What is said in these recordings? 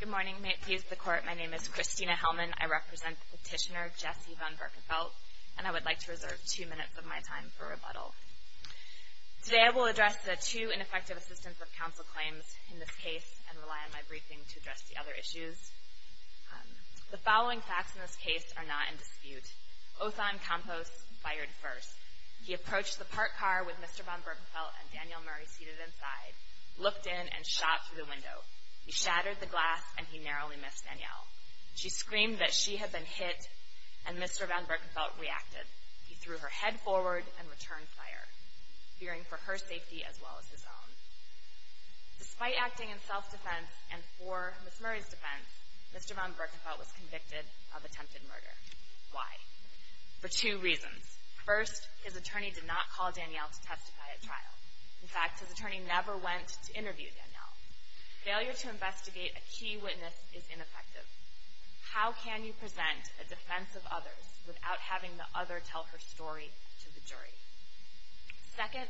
Good morning, Mates of the Court. My name is Kristina Hellman. I represent Petitioner Jesse von Berckefeldt, and I would like to reserve two minutes of my time for rebuttal. Today I will address the two ineffective assistance of counsel claims in this case and rely on my briefing to address the other issues. The following facts in this case are not in dispute. Othon Campos fired first. He approached the parked car with Mr. von Berckefeldt and Danielle Murray seated inside, looked in, and shot through the window. He shattered the glass, and he narrowly missed Danielle. She screamed that she had been hit, and Mr. von Berckefeldt reacted. He threw her head forward and returned fire, fearing for her safety as well as his own. Despite acting in self-defense and for Ms. Murray's defense, Mr. von Berckefeldt was convicted of attempted murder. Why? For two reasons. First, his attorney did not call Danielle to testify at trial. In fact, his attorney never went to interview Danielle. Failure to investigate a key witness is ineffective. How can you present a defense of others without having the other tell her story to the jury? Second,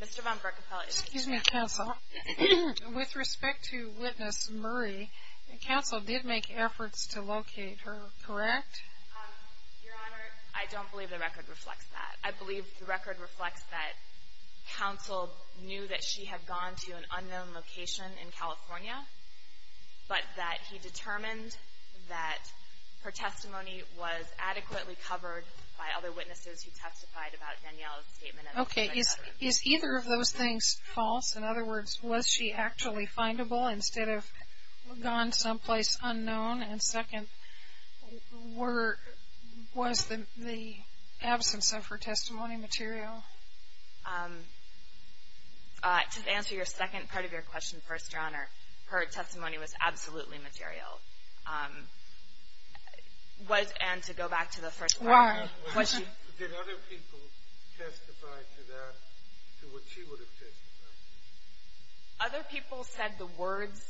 Mr. von Berckefeldt is guilty. Excuse me, counsel. With respect to witness Murray, counsel did make efforts to locate her, correct? Your Honor, I don't believe the record reflects that. I believe the record reflects that counsel knew that she had gone to an unknown location in California, but that he determined that her testimony was adequately covered by other witnesses who testified about Danielle's statement. Okay. Is either of those things false? In other words, was she actually findable instead of gone someplace unknown? And second, was the absence of her testimony material? To answer your second part of your question first, Your Honor, her testimony was absolutely material. And to go back to the first part. Why? Did other people testify to that, to what she would have testified? Other people said the words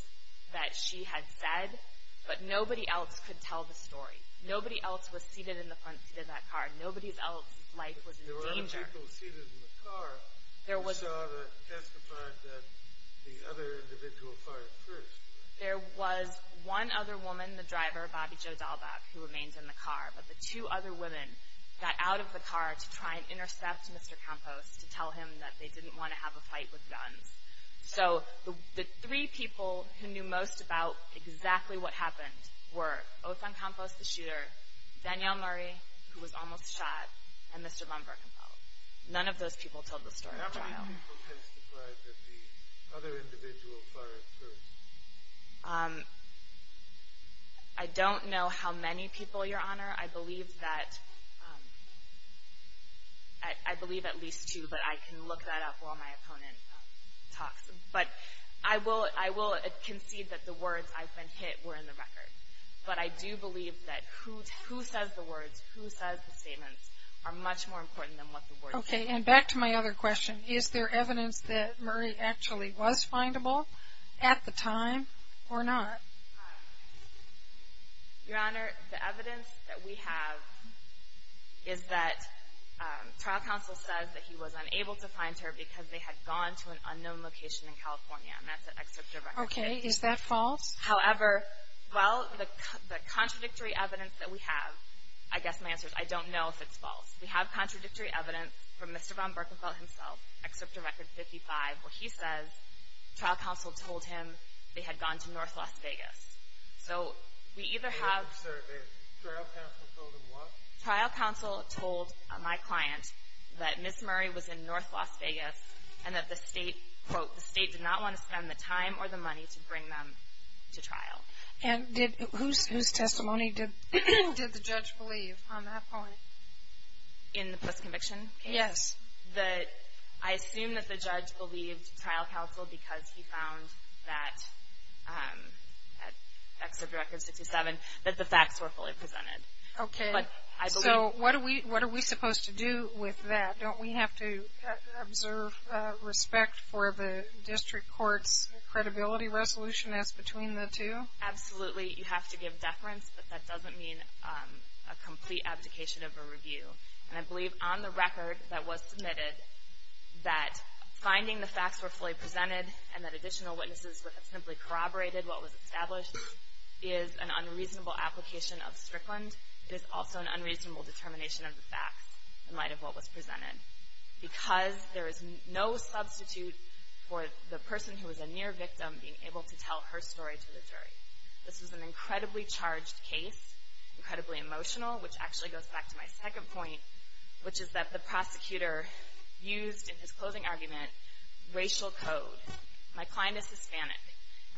that she had said, but nobody else could tell the story. Nobody else was seated in the front seat of that car. Nobody else's life was in danger. There were other people seated in the car who saw that and testified that the other individual fired first. There was one other woman, the driver, Bobbie Jo Dahlbach, who remained in the car, but the two other women got out of the car to try and intercept Mr. Campos to tell him that they didn't want to have a fight with guns. So the three people who knew most about exactly what happened were Othon Campos, the shooter, Danielle Murray, who was almost shot, and Mr. von Birkenfeld. None of those people told the story of the child. How many people testified that the other individual fired first? I don't know how many people, Your Honor. I believe that, I believe at least two, but I can look that up while my opponent talks. But I will concede that the words, I've been hit, were in the record. But I do believe that who says the words, who says the statements, are much more important than what the words say. Okay, and back to my other question. Is there evidence that Murray actually was findable at the time or not? Your Honor, the evidence that we have is that trial counsel says that he was unable to find her because they had gone to an unknown location in California, and that's at Excerptor Record 55. Okay, is that false? However, well, the contradictory evidence that we have, I guess my answer is I don't know if it's false. We have contradictory evidence from Mr. von Birkenfeld himself, Excerptor Record 55, where he says trial counsel told him they had gone to North Las Vegas. So we either have… Sir, trial counsel told him what? Trial counsel told my client that Ms. Murray was in North Las Vegas, and that the state, quote, the state did not want to spend the time or the money to bring them to trial. And whose testimony did the judge believe on that point? In the post-conviction case? Yes. I assume that the judge believed trial counsel because he found that, at Excerptor Record 67, that the facts were fully presented. Okay. So what are we supposed to do with that? Don't we have to observe respect for the district court's credibility resolution as between the two? Absolutely. You have to give deference, but that doesn't mean a complete abdication of a review. And I believe on the record that was submitted that finding the facts were fully presented and that additional witnesses would have simply corroborated what was established is an unreasonable application of Strickland. It is also an unreasonable determination of the facts in light of what was presented because there is no substitute for the person who was a near victim being able to tell her story to the jury. This was an incredibly charged case, incredibly emotional, which actually goes back to my second point, which is that the prosecutor used, in his closing argument, racial code. My client is Hispanic,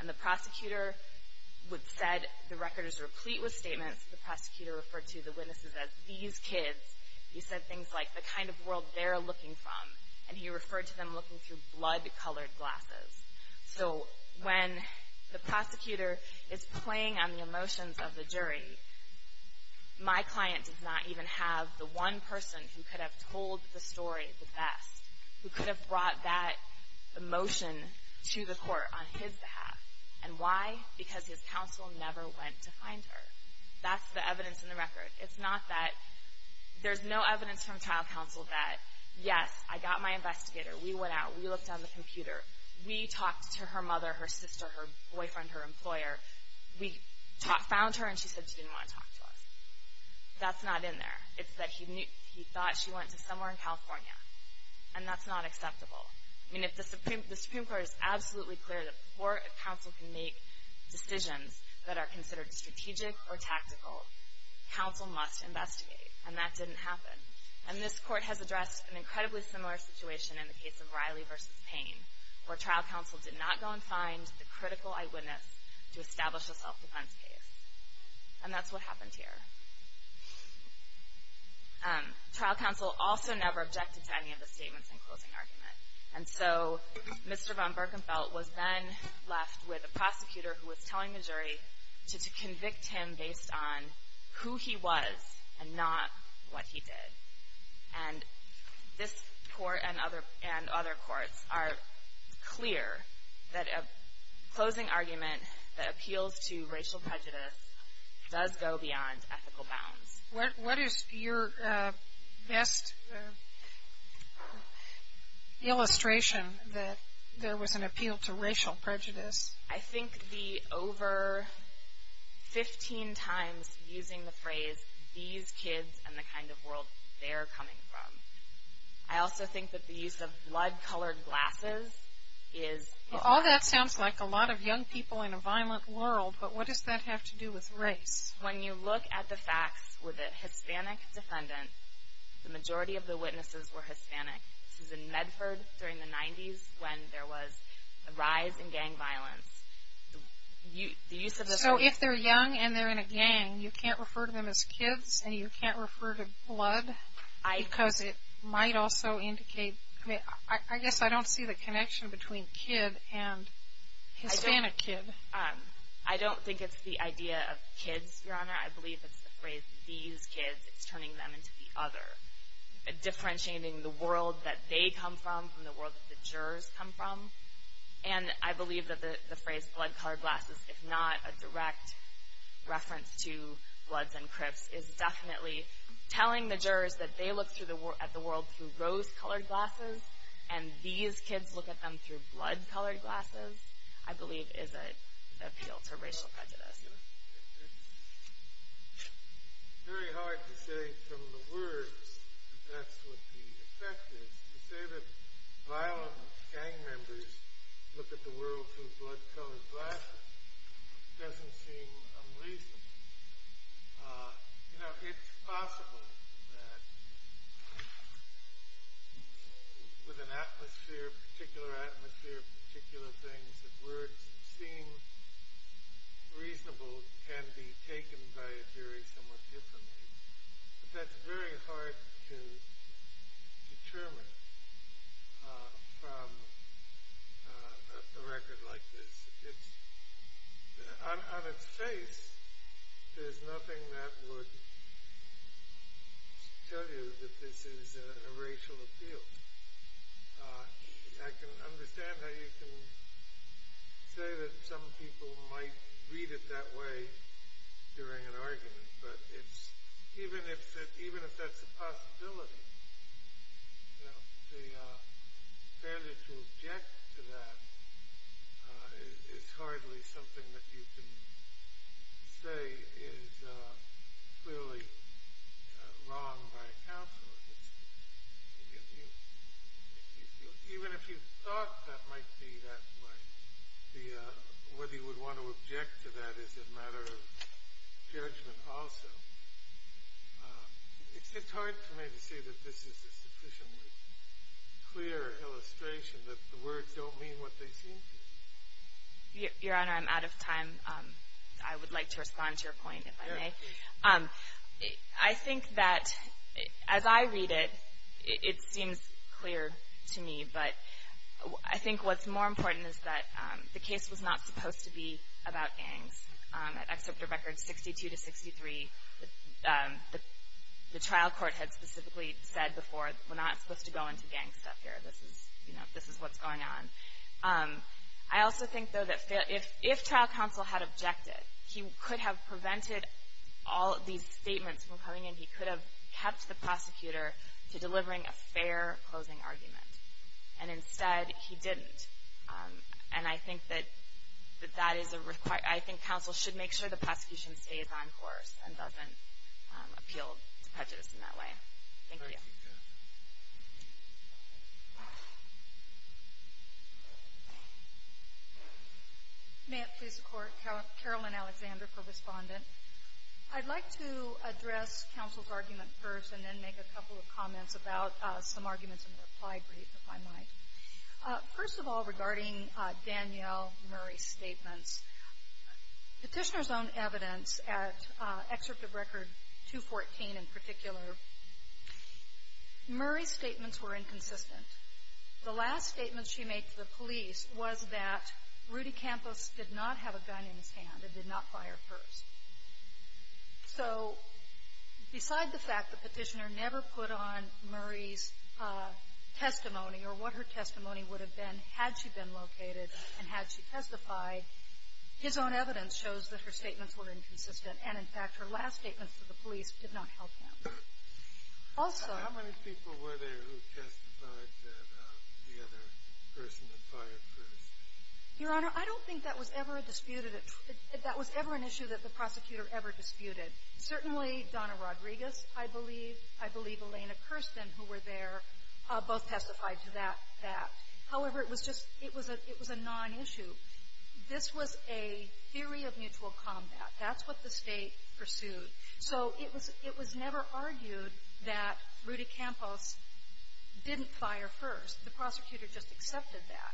and the prosecutor said the record is replete with statements. The prosecutor referred to the witnesses as these kids. He said things like the kind of world they're looking from, and he referred to them looking through blood-colored glasses. So when the prosecutor is playing on the emotions of the jury, my client does not even have the one person who could have told the story the best, who could have brought that emotion to the court on his behalf. And why? Because his counsel never went to find her. That's the evidence in the record. It's not that there's no evidence from trial counsel that, yes, I got my investigator, we went out, we looked on the computer, we talked to her mother, her sister, her boyfriend, her employer. We found her, and she said she didn't want to talk to us. That's not in there. It's that he thought she went to somewhere in California, and that's not acceptable. I mean, the Supreme Court is absolutely clear that before a counsel can make decisions that are considered strategic or tactical, counsel must investigate, and that didn't happen. And this court has addressed an incredibly similar situation in the case of Riley v. Payne, where trial counsel did not go and find the critical eyewitness to establish a self-defense case. And that's what happened here. Trial counsel also never objected to any of the statements in the closing argument. And so Mr. von Birkenfeldt was then left with a prosecutor who was telling the jury to convict him based on who he was and not what he did. And this court and other courts are clear that a closing argument that appeals to racial prejudice does go beyond ethical bounds. What is your best illustration that there was an appeal to racial prejudice? I think the over 15 times using the phrase, these kids and the kind of world they're coming from. I also think that the use of blood-colored glasses is... All that sounds like a lot of young people in a violent world, but what does that have to do with race? When you look at the facts with a Hispanic defendant, the majority of the witnesses were Hispanic. This was in Medford during the 90s when there was a rise in gang violence. So if they're young and they're in a gang, you can't refer to them as kids, and you can't refer to blood because it might also indicate... I guess I don't see the connection between kid and Hispanic kid. I don't think it's the idea of kids, Your Honor. I believe it's the phrase, these kids. It's turning them into the other, differentiating the world that they come from from the world that the jurors come from. And I believe that the phrase blood-colored glasses, if not a direct reference to Bloods and Crips, is definitely telling the jurors that they look at the world through rose-colored glasses, and these kids look at them through blood-colored glasses, I believe is an appeal to racial prejudice. It's very hard to say from the words that that's what the effect is. To say that violent gang members look at the world through blood-colored glasses doesn't seem unreasonable. You know, it's possible that with an atmosphere, a particular atmosphere, particular things that would seem reasonable can be taken by a jury somewhat differently. But that's very hard to determine from a record like this. On its face, there's nothing that would tell you that this is a racial appeal. I can understand how you can say that some people might read it that way during an argument, but even if that's a possibility, you know, the failure to object to that is hardly something that you can say is clearly wrong by a counselor. Even if you thought that might be that way, whether you would want to object to that is a matter of judgment also. It's just hard for me to say that this is a sufficiently clear illustration that the words don't mean what they seem to. Your Honor, I'm out of time. I would like to respond to your point, if I may. I think that as I read it, it seems clear to me, but I think what's more important is that the case was not supposed to be about gangs. At Excerpt of Records 62 to 63, the trial court had specifically said before, we're not supposed to go into gang stuff here. This is what's going on. I also think, though, that if trial counsel had objected, he could have prevented all of these statements from coming in. He could have kept the prosecutor to delivering a fair closing argument. And instead, he didn't. And I think that that is a requirement. I think counsel should make sure the prosecution stays on course and doesn't appeal to prejudice in that way. Thank you. Thank you. May it please the Court. Carolyn Alexander for Respondent. I'd like to address counsel's argument first, and then make a couple of comments about some arguments in the reply brief, if I might. First of all, regarding Danielle Murray's statements, Petitioner's own evidence at Excerpt of Record 214 in particular, Murray's statements were inconsistent. The last statement she made to the police was that Rudy Campos did not have a gun in his hand and did not fire first. So beside the fact that Petitioner never put on Murray's testimony or what her testimony would have been had she been located and had she testified, his own evidence shows that her statements were inconsistent. And, in fact, her last statement to the police did not help him. Also — How many people were there who testified that the other person had fired first? Your Honor, I don't think that was ever a disputed — that was ever an issue that the prosecutor ever disputed. Certainly Donna Rodriguez, I believe. I believe Elena Kirsten, who were there, both testified to that. However, it was just — it was a — it was a non-issue. This was a theory of mutual combat. That's what the State pursued. So it was — it was never argued that Rudy Campos didn't fire first. The prosecutor just accepted that.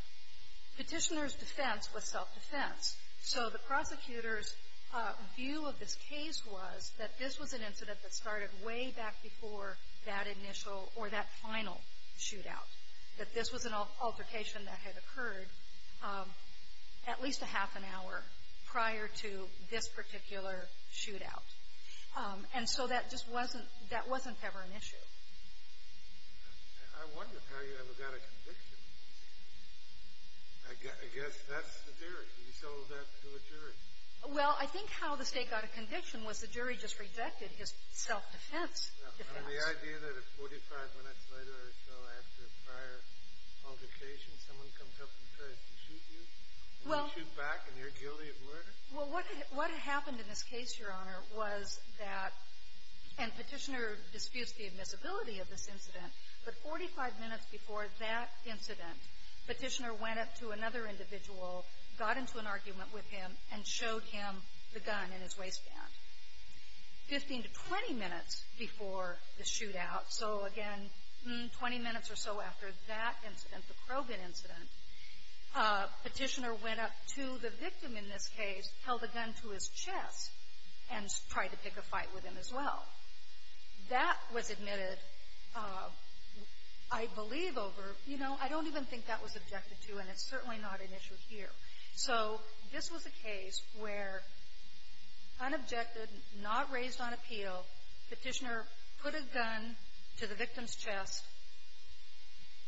Petitioner's defense was self-defense. So the prosecutor's view of this case was that this was an incident that started way back before that initial or that final shootout, that this was an altercation that had occurred at least a half an hour prior to this particular shootout. And so that just wasn't — that wasn't ever an issue. I wonder how you ever got a conviction. I guess that's the theory. You sold that to a jury. Well, I think how the State got a conviction was the jury just rejected his self-defense defense. The idea that it's 45 minutes later or so after a prior altercation, someone comes up and tries to shoot you, and you shoot back, and you're guilty of murder? Well, what happened in this case, Your Honor, was that — and Petitioner disputes the admissibility of this incident. But 45 minutes before that incident, Petitioner went up to another individual, got into an argument with him, and showed him the gun in his waistband. Fifteen to 20 minutes before the shootout, so again, 20 minutes or so after that incident, the Krogan incident, Petitioner went up to the victim in this case, held a gun to his chest, and tried to pick a fight with him as well. That was admitted, I believe, over — you know, I don't even think that was objected to, and it's certainly not an issue here. So this was a case where unobjected, not raised on appeal, Petitioner put a gun to the victim's chest.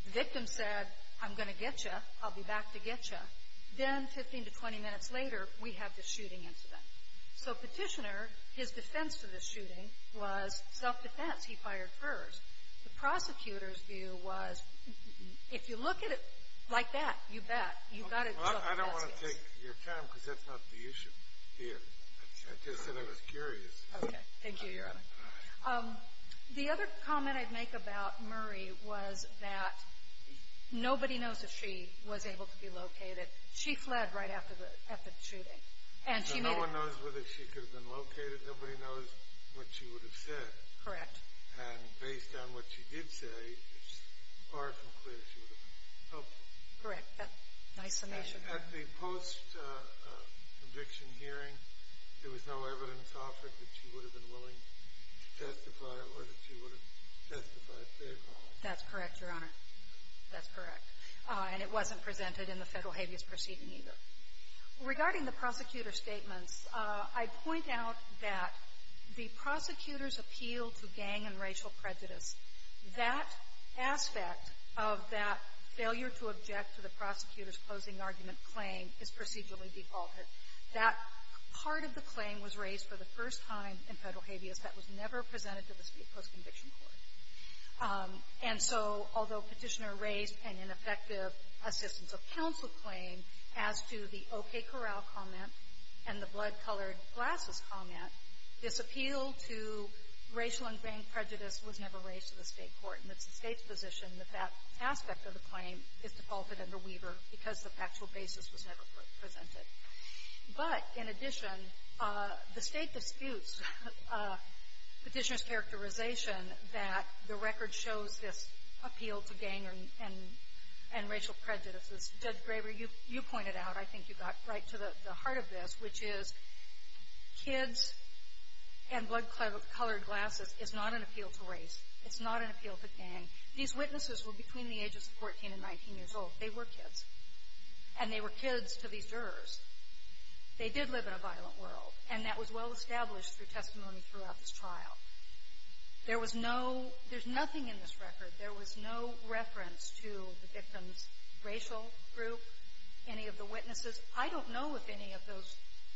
The victim said, I'm going to get you. I'll be back to get you. Then 15 to 20 minutes later, we have this shooting incident. So Petitioner, his defense for this shooting was self-defense. He fired first. The prosecutor's view was, if you look at it like that, you bet, you've got to — Well, I don't want to take your time because that's not the issue here. I just said I was curious. Okay. Thank you, Your Honor. The other comment I'd make about Murray was that nobody knows if she was able to be located. She fled right after the — after the shooting. And she made — So no one knows whether she could have been located. Nobody knows what she would have said. Correct. And based on what she did say, it's far from clear she would have been helpful. Correct. Nice summation. At the post-conviction hearing, there was no evidence offered that she would have been willing to testify or that she would have testified favorably. That's correct, Your Honor. That's correct. And it wasn't presented in the federal habeas proceeding either. Regarding the prosecutor's statements, I point out that the prosecutor's appeal to gang and racial prejudice, that aspect of that failure to object to the prosecutor's closing argument claim is procedurally defaulted. That part of the claim was raised for the first time in federal habeas. That was never presented to the post-conviction court. And so, although Petitioner raised an ineffective assistance of counsel claim, as to the okay corral comment and the blood-colored glasses comment, this appeal to racial and gang prejudice was never raised to the state court. And it's the state's position that that aspect of the claim is defaulted under Weaver because the factual basis was never presented. But, in addition, the state disputes Petitioner's characterization that the record shows this appeal to gang and racial prejudice. Judge Graber, you pointed out, I think you got right to the heart of this, which is kids and blood-colored glasses is not an appeal to race. It's not an appeal to gang. These witnesses were between the ages of 14 and 19 years old. They were kids. And they were kids to these jurors. They did live in a violent world. And that was well-established through testimony throughout this trial. There was no – there's nothing in this record. There was no reference to the victim's racial group, any of the witnesses. I don't know if any of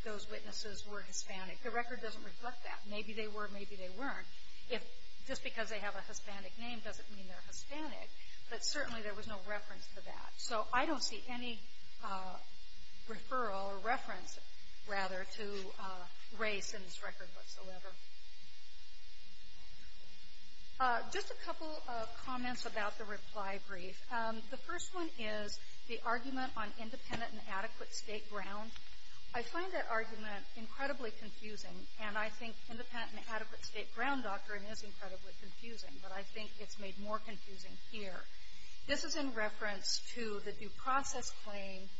those witnesses were Hispanic. The record doesn't reflect that. Maybe they were, maybe they weren't. If – just because they have a Hispanic name doesn't mean they're Hispanic, but certainly there was no reference to that. So I don't see any referral or reference, rather, to race in this record whatsoever. Just a couple of comments about the reply brief. The first one is the argument on independent and adequate state ground. I find that argument incredibly confusing, and I think independent and adequate state ground doctrine is incredibly confusing, but I think it's made more confusing here. This is in reference to the due process claim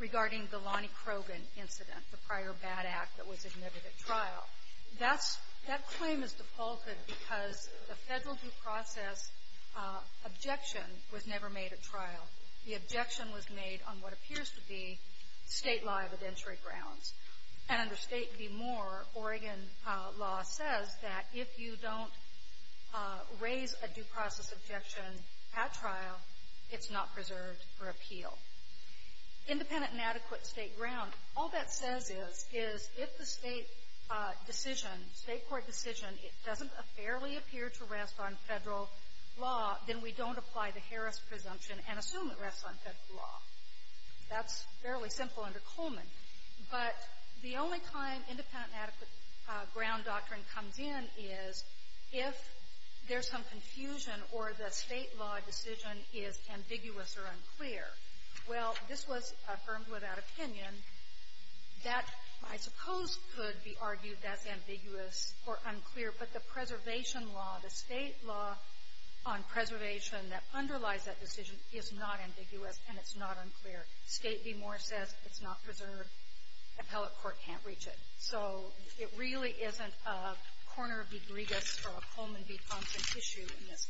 regarding the Lonnie Krogan incident, the prior bad act that was admitted at trial. That claim is defaulted because the federal due process objection was never made at trial. The objection was made on what appears to be state law evidentiary grounds. And under State v. Moore, Oregon law says that if you don't raise a due process objection at trial, it's not preserved for appeal. Independent and adequate state ground, all that says is, is if the state decision, state court decision, it doesn't fairly appear to rest on federal law, then we don't apply the Harris presumption and assume it rests on federal law. That's fairly simple under Coleman. But the only time independent and adequate ground doctrine comes in is if there's some confusion or the state law decision is ambiguous or unclear. Well, this was affirmed without opinion. That, I suppose, could be argued as ambiguous or unclear, but the preservation law, the state law on preservation that underlies that decision is not ambiguous and it's not unclear. State v. Moore says it's not preserved. Appellate court can't reach it. So it really isn't a corner of egregious or a Coleman v. Thompson issue in this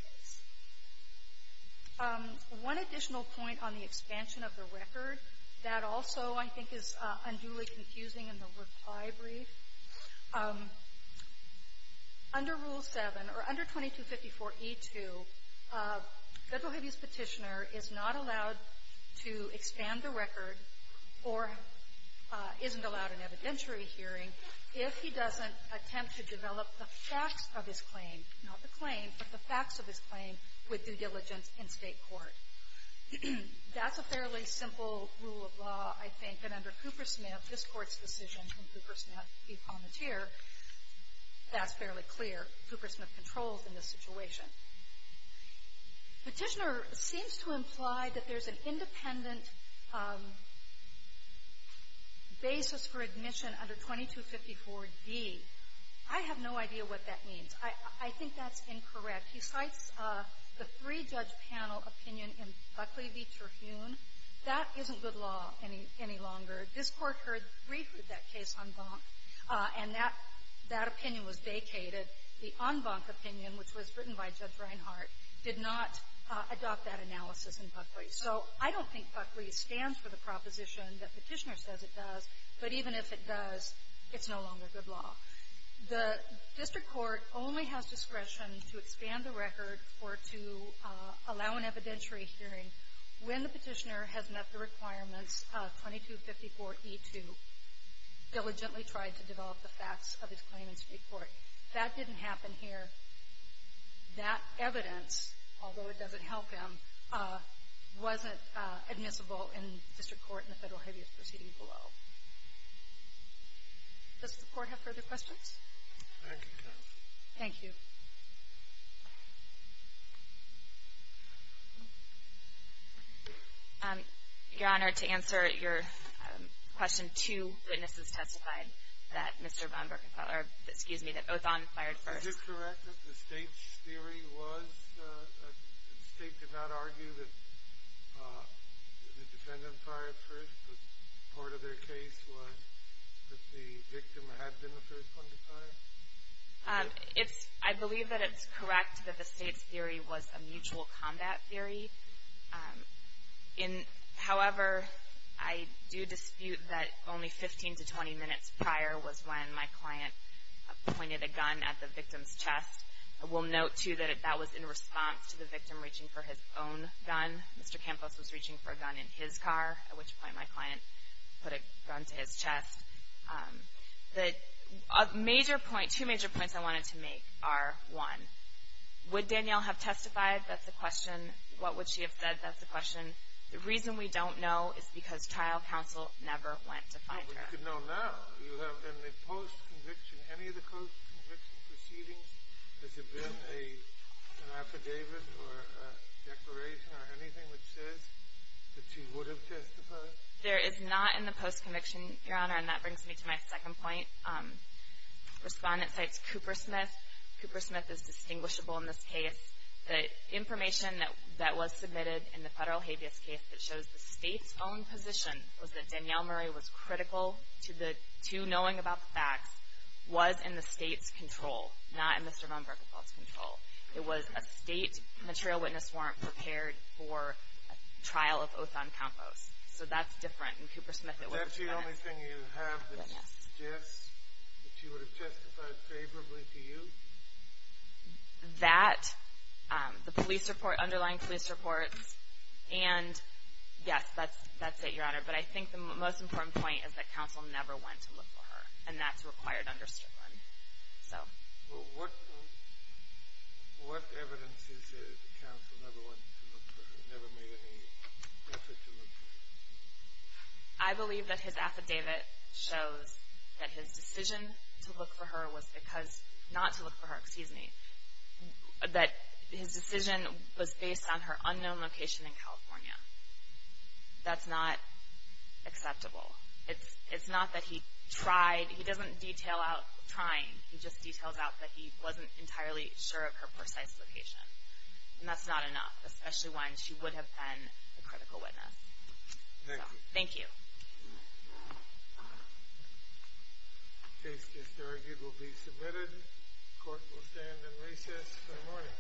case. One additional point on the expansion of the record that also, I think, is unduly confusing in the reply brief, under Rule 7, or under 2254e2, federal habeas petitioner is not allowed to expand the record or isn't allowed an evidentiary hearing if he doesn't attempt to develop the facts of his claim, not the claim, but the facts of his claim with due diligence in state court. That's a fairly simple rule of law, I think, and under Coopersmith, this Court's decision from Coopersmith v. Palmateer, that's fairly clear. Coopersmith controls in this situation. Petitioner seems to imply that there's an independent basis for admission under 2254d. I have no idea what that means. I think that's incorrect. He cites the three-judge panel opinion in Buckley v. Terhune. That isn't good law any longer. This Court heard briefly that case en banc, and that opinion was vacated. The en banc opinion, which was written by Judge Reinhart, did not adopt that analysis in Buckley. So I don't think Buckley stands for the proposition that petitioner says it does, but even if it does, it's no longer good law. The district court only has discretion to expand the record or to allow an evidentiary hearing when the petitioner has met the requirements of 2254e2, diligently tried to develop the facts of his claim in street court. That didn't happen here. That evidence, although it doesn't help him, wasn't admissible in district court in the Federal Habeas Proceedings below. Does the Court have further questions? Thank you, counsel. Thank you. Your Honor, to answer your question, two witnesses testified that Mr. von Birkenfeld or, excuse me, that Othon fired first. Is it correct that the State's theory was, the State did not argue that the defendant fired first, but part of their case was that the victim had been the first one to fire? I believe that it's correct that the State's theory was a mutual combat theory. However, I do dispute that only 15 to 20 minutes prior was when my client pointed a gun at the victim's chest. I will note, too, that that was in response to the victim reaching for his own gun. Mr. Campos was reaching for a gun in his car, at which point my client put a gun to his chest. The major point, two major points I wanted to make are, one, would Danielle have testified? That's the question. What would she have said? That's the question. The reason we don't know is because trial counsel never went to find her. Well, we could know now. Do you have any post-conviction, any of the post-conviction proceedings? Has there been an affidavit or a declaration or anything that says that she would have testified? There is not in the post-conviction, Your Honor, and that brings me to my second point. Respondent cites Coopersmith. Coopersmith is distinguishable in this case. The information that was submitted in the federal habeas case that shows the State's own position was that Danielle Murray was critical to knowing about the facts, was in the State's control, not in Mr. Von Berkefeld's control. It was a State material witness warrant prepared for a trial of oath on compost. So that's different. In Coopersmith, it wasn't prepared. Is that the only thing you have that suggests that she would have testified favorably to you? That, the police report, underlying police reports, and yes, that's it, Your Honor. But I think the most important point is that counsel never went to look for her, and that's required under Strickland. Well, what evidence is there that counsel never went to look for her, never made any effort to look for her? I believe that his affidavit shows that his decision to look for her was because, not to look for her, excuse me, that his decision was based on her unknown location in California. That's not acceptable. It's not that he tried. He doesn't detail out trying. He just details out that he wasn't entirely sure of her precise location. And that's not enough, especially when she would have been a critical witness. Thank you. Thank you. Case disargued will be submitted. Court will stand in recess. Good morning. Good morning.